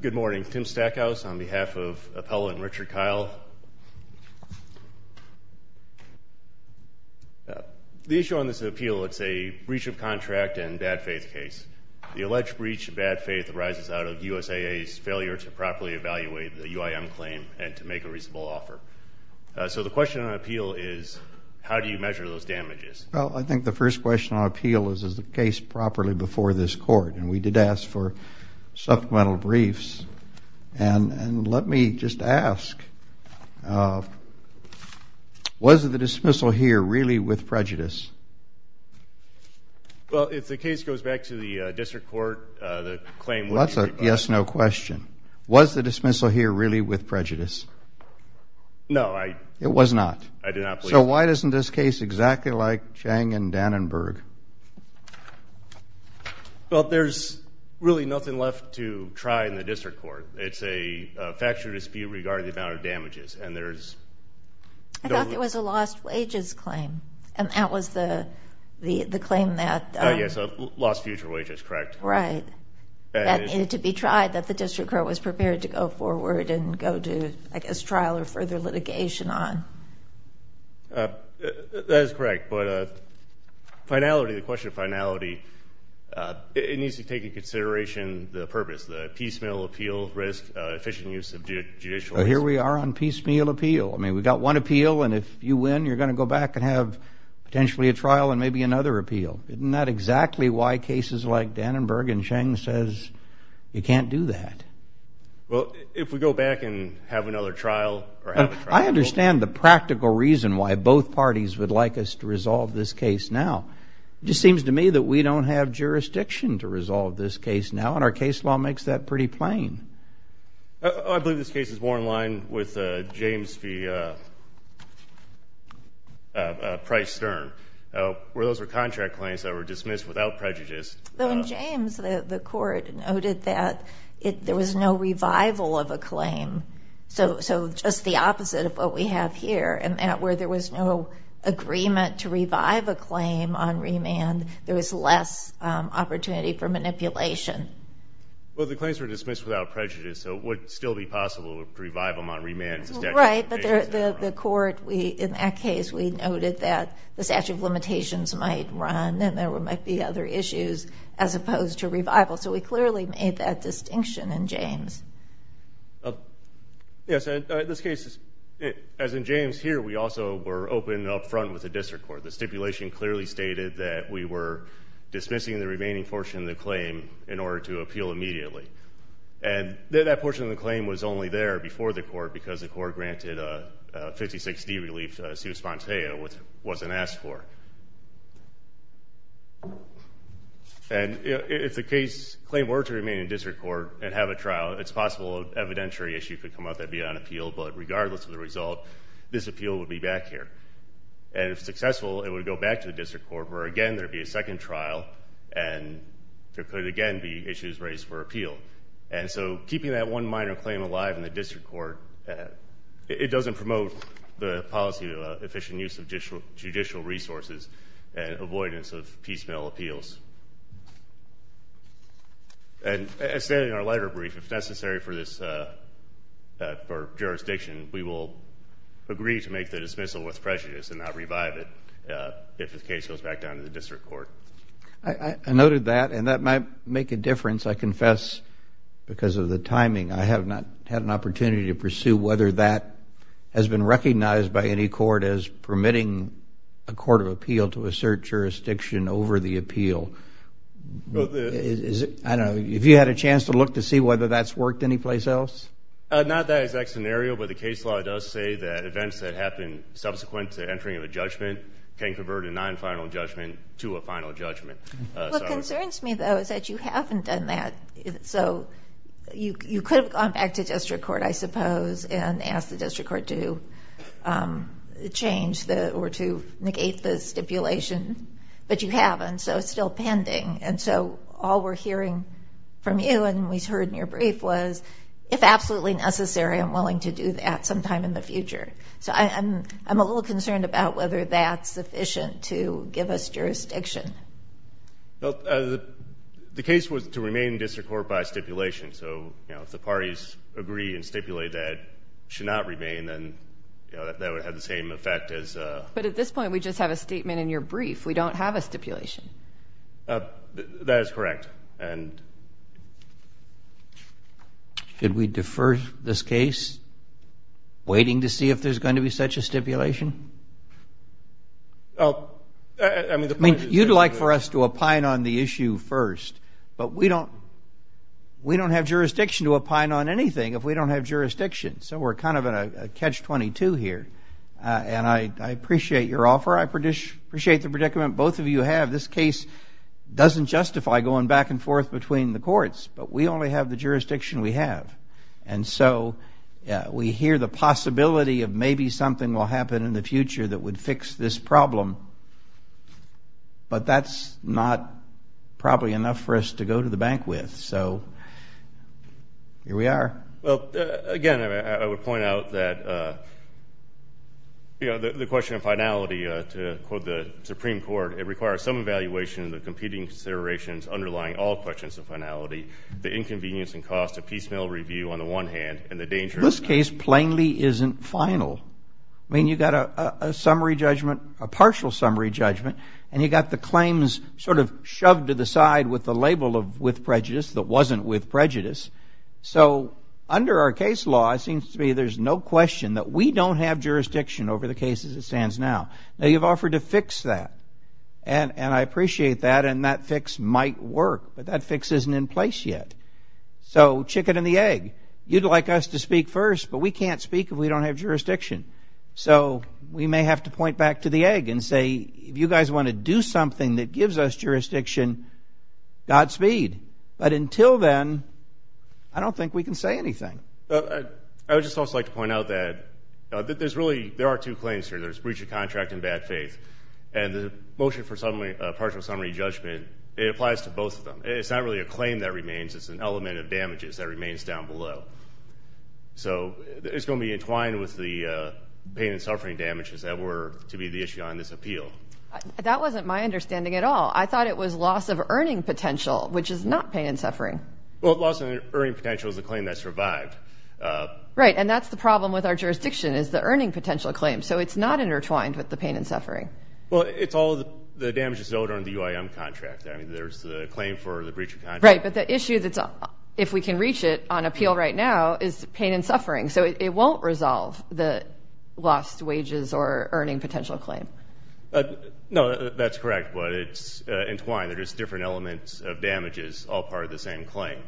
Good morning. Tim Stackhouse on behalf of Appellant Richard Kile. The issue on this appeal, it's a breach of contract and bad faith case. The alleged breach of bad faith arises out of USAA's failure to properly evaluate the UIM claim and to make a reasonable offer. So the question on appeal is, how do you measure those damages? Well, I think the first question on appeal is, is the case properly before this Court? And we did ask for supplemental briefs. And let me just ask, was the dismissal here really with prejudice? Well, if the case goes back to the district court, the claim would be required. That's a yes-no question. Was the dismissal here really with prejudice? No, I did not believe it. It was not. I did not believe it. So why isn't this case exactly like Chang and Dannenberg? Well, there's really nothing left to try in the district court. It's a factual dispute regarding the amount of damages. I thought there was a lost wages claim, and that was the claim that – Yes, lost future wages, correct. Right. That needed to be tried that the district court was prepared to go forward and go to, I guess, trial or further litigation on. That is correct. But finality, the question of finality, it needs to take into consideration the purpose, the piecemeal appeal risk, efficient use of judicial risk. Well, here we are on piecemeal appeal. I mean, we've got one appeal, and if you win, you're going to go back and have potentially a trial and maybe another appeal. Isn't that exactly why cases like Dannenberg and Chang says you can't do that? Well, if we go back and have another trial or have a trial. I understand the practical reason why both parties would like us to resolve this case now. It just seems to me that we don't have jurisdiction to resolve this case now, and our case law makes that pretty plain. I believe this case is more in line with James P. Price Stern, where those were contract claims that were dismissed without prejudice. Well, in James, the court noted that there was no revival of a claim, so just the opposite of what we have here, and that where there was no agreement to revive a claim on remand, there was less opportunity for manipulation. Well, the claims were dismissed without prejudice, so it would still be possible to revive them on remand. Right. But the court, in that case, we noted that the statute of limitations might run and there might be other issues as opposed to revival, so we clearly made that distinction in James. Yes, in this case, as in James here, we also were open up front with the district court. The stipulation clearly stated that we were dismissing the remaining portion of the claim in order to appeal immediately, and that portion of the claim was only there before the court because the court granted a 56-D relief suit sponteo, which wasn't asked for. And if the claim were to remain in district court and have a trial, it's possible an evidentiary issue could come up that would be on appeal, but regardless of the result, this appeal would be back here. And if successful, it would go back to the district court, where again there would be a second trial and there could again be issues raised for appeal. And so keeping that one minor claim alive in the district court, it doesn't promote the policy of efficient use of judicial resources and avoidance of piecemeal appeals. And as stated in our letter brief, if necessary for this jurisdiction, we will agree to make the dismissal with prejudice and not revive it if the case goes back down to the district court. I noted that, and that might make a difference. I confess because of the timing, I have not had an opportunity to pursue whether that has been recognized by any court as permitting a court of appeal to assert jurisdiction over the appeal. I don't know. Have you had a chance to look to see whether that's worked anyplace else? Not that exact scenario, but the case law does say that events that happen subsequent to entering of a judgment can convert a non-final judgment to a final judgment. What concerns me, though, is that you haven't done that. So you could have gone back to district court, I suppose, and asked the district court to change or to negate the stipulation, but you haven't, so it's still pending. And so all we're hearing from you and we heard in your brief was, if absolutely necessary, I'm willing to do that sometime in the future. So I'm a little concerned about whether that's sufficient to give us jurisdiction. Well, the case was to remain in district court by stipulation, so if the parties agree and stipulate that it should not remain, then that would have the same effect as a... But at this point, we just have a statement in your brief. We don't have a stipulation. That is correct. Should we defer this case, waiting to see if there's going to be such a stipulation? I mean, the point is... You'd like for us to opine on the issue first, but we don't have jurisdiction to opine on anything if we don't have jurisdiction. So we're kind of in a catch-22 here, and I appreciate your offer. I appreciate the predicament both of you have. This case doesn't justify going back and forth between the courts, but we only have the jurisdiction we have. And so we hear the possibility of maybe something will happen in the future that would fix this problem, but that's not probably enough for us to go to the bank with. So here we are. Well, again, I would point out that the question of finality, to quote the Supreme Court, it requires some evaluation of the competing considerations underlying all questions of finality, the inconvenience and cost of piecemeal review on the one hand, and the danger... This case plainly isn't final. I mean, you've got a summary judgment, a partial summary judgment, and you've got the claims sort of shoved to the side with the label of with prejudice that wasn't with prejudice. So under our case law, it seems to me there's no question that we don't have jurisdiction over the case as it stands now. Now, you've offered to fix that, and I appreciate that, and that fix might work, but that fix isn't in place yet. So chicken and the egg. You'd like us to speak first, but we can't speak if we don't have jurisdiction. So we may have to point back to the egg and say, if you guys want to do something that gives us jurisdiction, Godspeed. But until then, I don't think we can say anything. I would just also like to point out that there's really, there are two claims here. There's breach of contract and bad faith. And the motion for partial summary judgment, it applies to both of them. It's not really a claim that remains. It's an element of damages that remains down below. So it's going to be entwined with the pain and suffering damages that were to be the issue on this appeal. That wasn't my understanding at all. Well, loss in earning potential is a claim that survived. Right. And that's the problem with our jurisdiction is the earning potential claim. So it's not intertwined with the pain and suffering. Well, it's all the damages owed under the UIM contract. I mean, there's the claim for the breach of contract. Right. But the issue that's, if we can reach it on appeal right now, is pain and suffering. So it won't resolve the lost wages or earning potential claim. No, that's correct. But it's entwined. There's different elements of damages, all part of the same claim.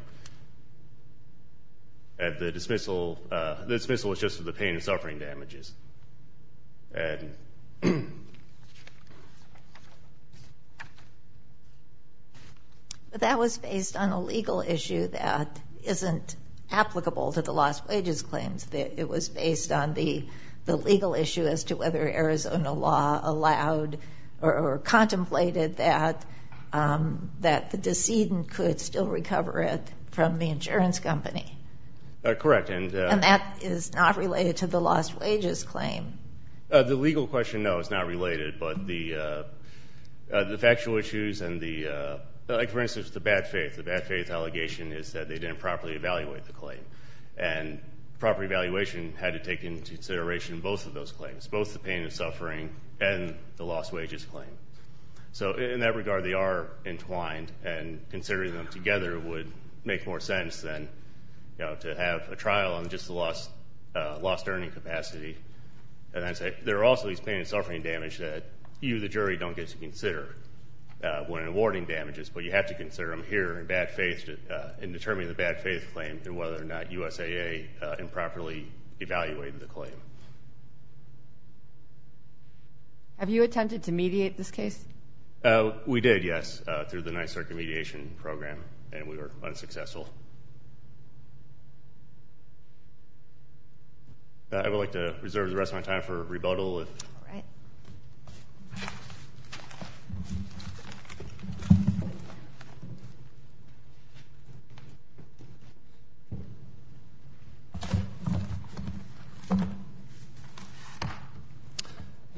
The dismissal is just for the pain and suffering damages. That was based on a legal issue that isn't applicable to the lost wages claims. It was based on the legal issue as to whether Arizona law allowed or contemplated that the decedent could still recover it from the insurance company. Correct. And that is not related to the lost wages claim. The legal question, no, it's not related. But the factual issues and the, like, for instance, the bad faith. The bad faith allegation is that they didn't properly evaluate the claim. And proper evaluation had to take into consideration both of those claims, both the pain and suffering and the lost wages claim. So in that regard, they are entwined. And considering them together would make more sense than, you know, to have a trial on just the lost earning capacity. And then there are also these pain and suffering damage that you, the jury, don't get to consider when awarding damages. But you have to consider them here in bad faith claim and whether or not USAA improperly evaluated the claim. Have you attempted to mediate this case? We did, yes, through the Ninth Circuit mediation program. And we were unsuccessful. I would like to reserve the rest of my time for rebuttal. All right.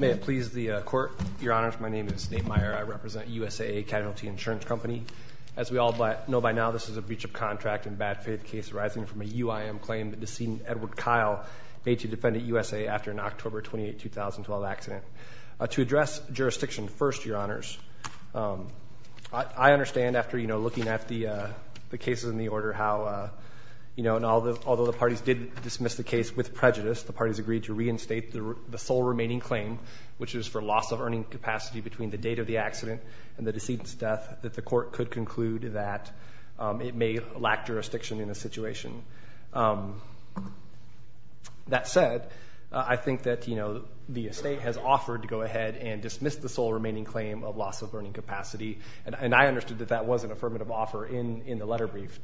May it please the Court, Your Honor, my name is Nate Meyer. I represent USAA Casualty Insurance Company. As we all know by now, this is a breach of contract. In a bad faith case arising from a UIM claim the decedent, Edward Kyle, made to defendant USAA after an October 28, 2012 accident. To address jurisdiction first, Your Honors, I understand after, you know, looking at the cases in the order how, you know, and although the parties did dismiss the case with prejudice, the parties agreed to reinstate the sole remaining claim, which is for loss of earning capacity between the date of the accident and the decedent's death, that the court could conclude that it may lack jurisdiction in the situation. That said, I think that, you know, the estate has offered to go ahead and dismiss the sole remaining claim of loss of earning capacity. And I understood that that was an affirmative offer in the letter brief.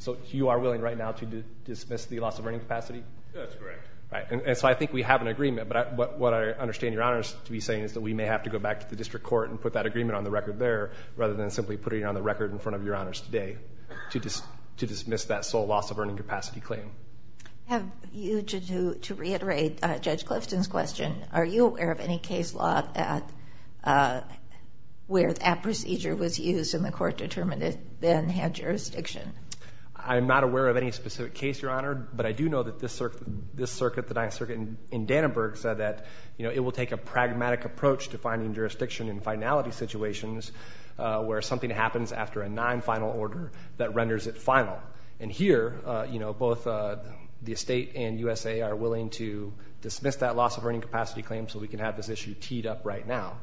So you are willing right now to dismiss the loss of earning capacity? That's correct. All right. And so I think we have an agreement. But what I understand, Your Honors, to be saying is that we may have to go back to the district court and put that agreement on the record there, rather than simply putting it on the record in front of Your Honors today to dismiss that sole loss of earning capacity claim. To reiterate Judge Clifton's question, are you aware of any case law where that procedure was used and the court determined it then had jurisdiction? I'm not aware of any specific case, Your Honor. But I do know that this circuit, the Ninth Circuit in Dannenberg, said that, you know, it will take a pragmatic approach to finding jurisdiction in finality situations where something happens after a non-final order that renders it final. And here, you know, both the estate and USA are willing to dismiss that loss of earning capacity claim so we can have this issue teed up right now.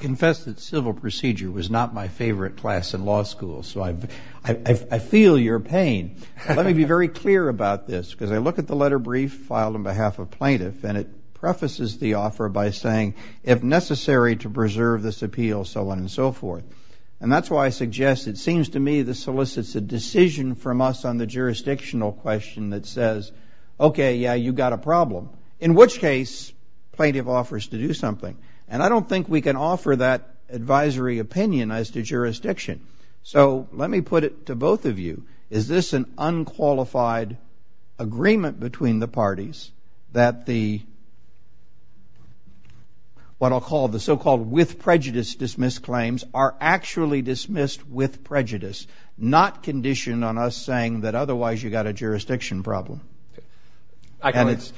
Confessed that civil procedure was not my favorite class in law school, so I feel your pain. Let me be very clear about this, because I look at the letter brief filed on behalf of plaintiff and it prefaces the offer by saying, if necessary to preserve this appeal, so on and so forth. And that's why I suggest it seems to me this solicits a decision from us on the jurisdictional question that says, okay, yeah, you got a problem, in which case plaintiff offers to do something. And I don't think we can offer that advisory opinion as to jurisdiction. So let me put it to both of you. Is this an unqualified agreement between the parties that the what I'll call the so-called with prejudice dismissed claims are actually dismissed with prejudice, not conditioned on us saying that otherwise you got a jurisdiction problem? And it's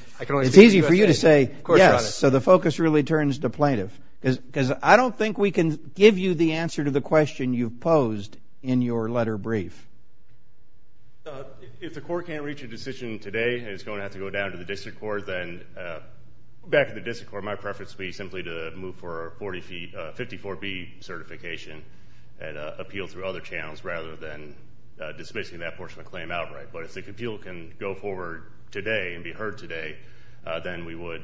easy for you to say yes, so the focus really turns to plaintiff. Because I don't think we can give you the answer to the question you've posed in your letter brief. If the court can't reach a decision today and it's going to have to go down to the district court, then back to the district court, my preference would be simply to move for a 54B certification and appeal through other channels rather than dismissing that portion of the claim outright. But if the appeal can go forward today and be heard today, then we would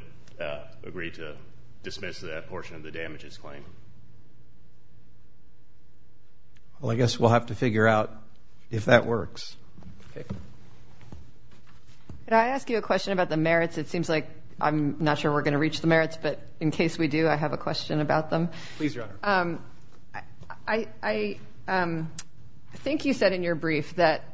agree to dismiss that portion of the damages claim. Well, I guess we'll have to figure out if that works. Can I ask you a question about the merits? It seems like I'm not sure we're going to reach the merits, but in case we do, I have a question about them. Please, Your Honor. I think you said in your brief that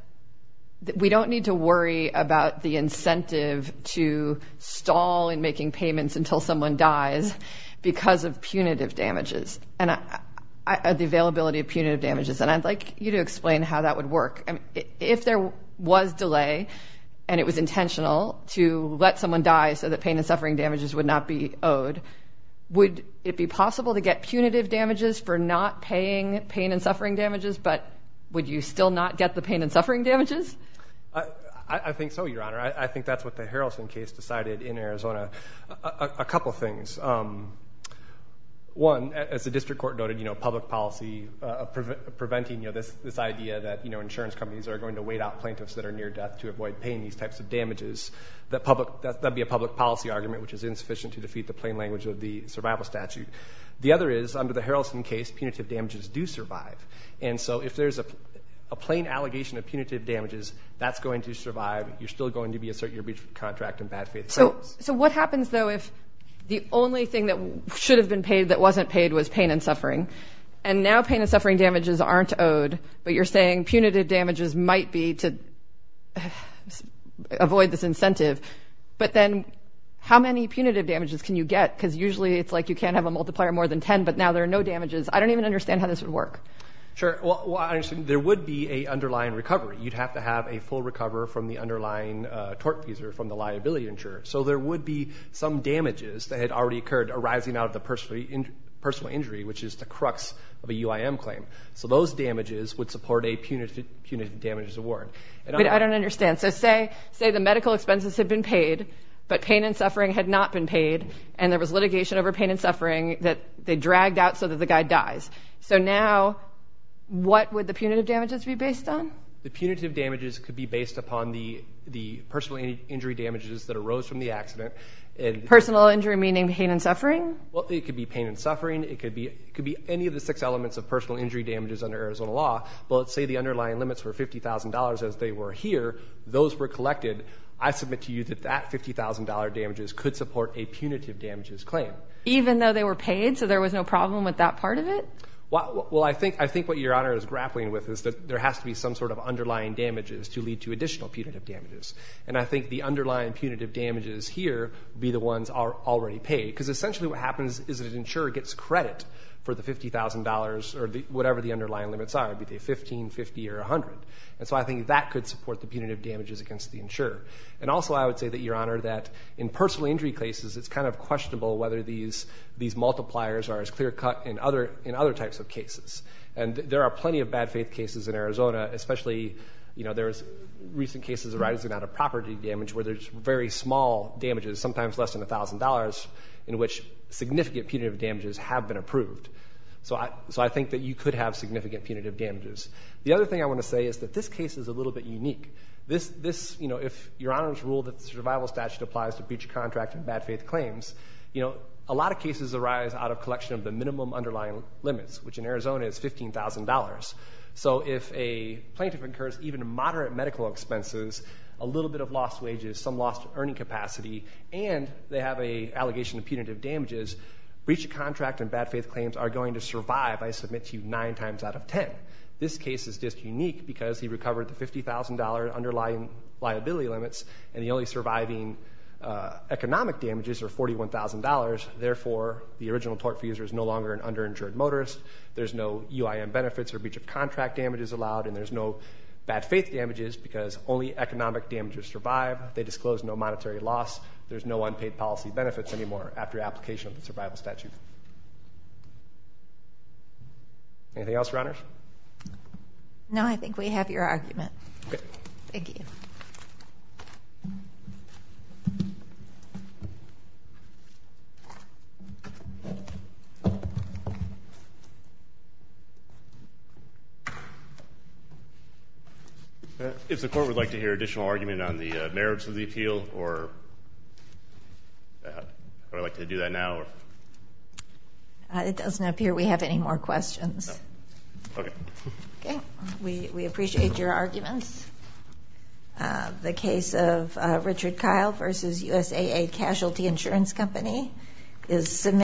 we don't need to worry about the incentive to stall in making payments until someone dies because of punitive damages and the availability of punitive damages. And I'd like you to explain how that would work. If there was delay and it was intentional to let someone die so that pain and suffering damages would not be owed, would it be possible to get punitive damages for not paying pain and suffering damages, but would you still not get the pain and suffering damages? I think so, Your Honor. I think that's what the Harrelson case decided in Arizona. A couple things. One, as the district court noted, public policy, preventing this idea that insurance companies are going to wait out plaintiffs that are near death to avoid paying these types of damages, that would be a public policy argument, which is insufficient to defeat the plain language of the survival statute. The other is, under the Harrelson case, punitive damages do survive. And so if there's a plain allegation of punitive damages, that's going to survive. You're still going to be asserting your contract in bad faith sentence. So what happens, though, if the only thing that should have been paid that wasn't paid was pain and suffering, and now pain and suffering damages aren't owed, but you're saying punitive damages might be to avoid this incentive, but then how many punitive damages can you get? Because usually it's like you can't have a multiplier more than 10, but now there are no damages. I don't even understand how this would work. Sure. Well, there would be an underlying recovery. You'd have to have a full recover from the underlying tort fees or from the liability insurer. So there would be some damages that had already occurred arising out of the personal injury, which is the crux of a UIM claim. So those damages would support a punitive damages award. But I don't understand. So say the medical expenses had been paid, but pain and suffering had not been paid, and there was litigation over pain and suffering that they dragged out so that the guy dies. So now what would the punitive damages be based on? The punitive damages could be based upon the personal injury damages that arose from the accident. Personal injury meaning pain and suffering? Well, it could be pain and suffering. It could be any of the six elements of personal injury damages under Arizona law. But let's say the underlying limits were $50,000 as they were here. Those were collected. I submit to you that that $50,000 damages could support a punitive damages claim. Even though they were paid so there was no problem with that part of it? Well, I think what Your Honor is grappling with is that there has to be some sort of underlying damages to lead to additional punitive damages. And I think the underlying punitive damages here would be the ones already paid because essentially what happens is that an insurer gets credit for the $50,000 or whatever the underlying limits are, be they $15,000, $50,000, or $100,000. And so I think that could support the punitive damages against the insurer. And also I would say that, Your Honor, that in personal injury cases it's kind of questionable whether these multipliers are as clear-cut in other types of cases. And there are plenty of bad faith cases in Arizona, especially there's recent cases arising out of property damage where there's very small damages, sometimes less than $1,000, in which significant punitive damages have been approved. So I think that you could have significant punitive damages. The other thing I want to say is that this case is a little bit unique. If Your Honor's rule that the survival statute applies to breach of contract and bad faith claims, a lot of cases arise out of collection of the minimum underlying limits, which in Arizona is $15,000. So if a plaintiff incurs even moderate medical expenses, a little bit of lost wages, some lost earning capacity, and they have an allegation of punitive damages, breach of contract and bad faith claims are going to survive, I submit to you, 9 times out of 10. This case is just unique because he recovered the $50,000 underlying liability limits and the only surviving economic damages are $41,000. Therefore, the original tort for the user is no longer an underinsured motorist. There's no UIM benefits or breach of contract damages allowed, and there's no bad faith damages because only economic damages survive. They disclose no monetary loss. There's no unpaid policy benefits anymore after application of the survival statute. Anything else, Your Honors? No, I think we have your argument. Okay. Thank you. If the court would like to hear additional argument on the merits of the appeal, or would I like to do that now? It doesn't appear we have any more questions. Okay. Okay. We appreciate your arguments. The case of Richard Kyle v. USAA Casualty Insurance Company is submitted.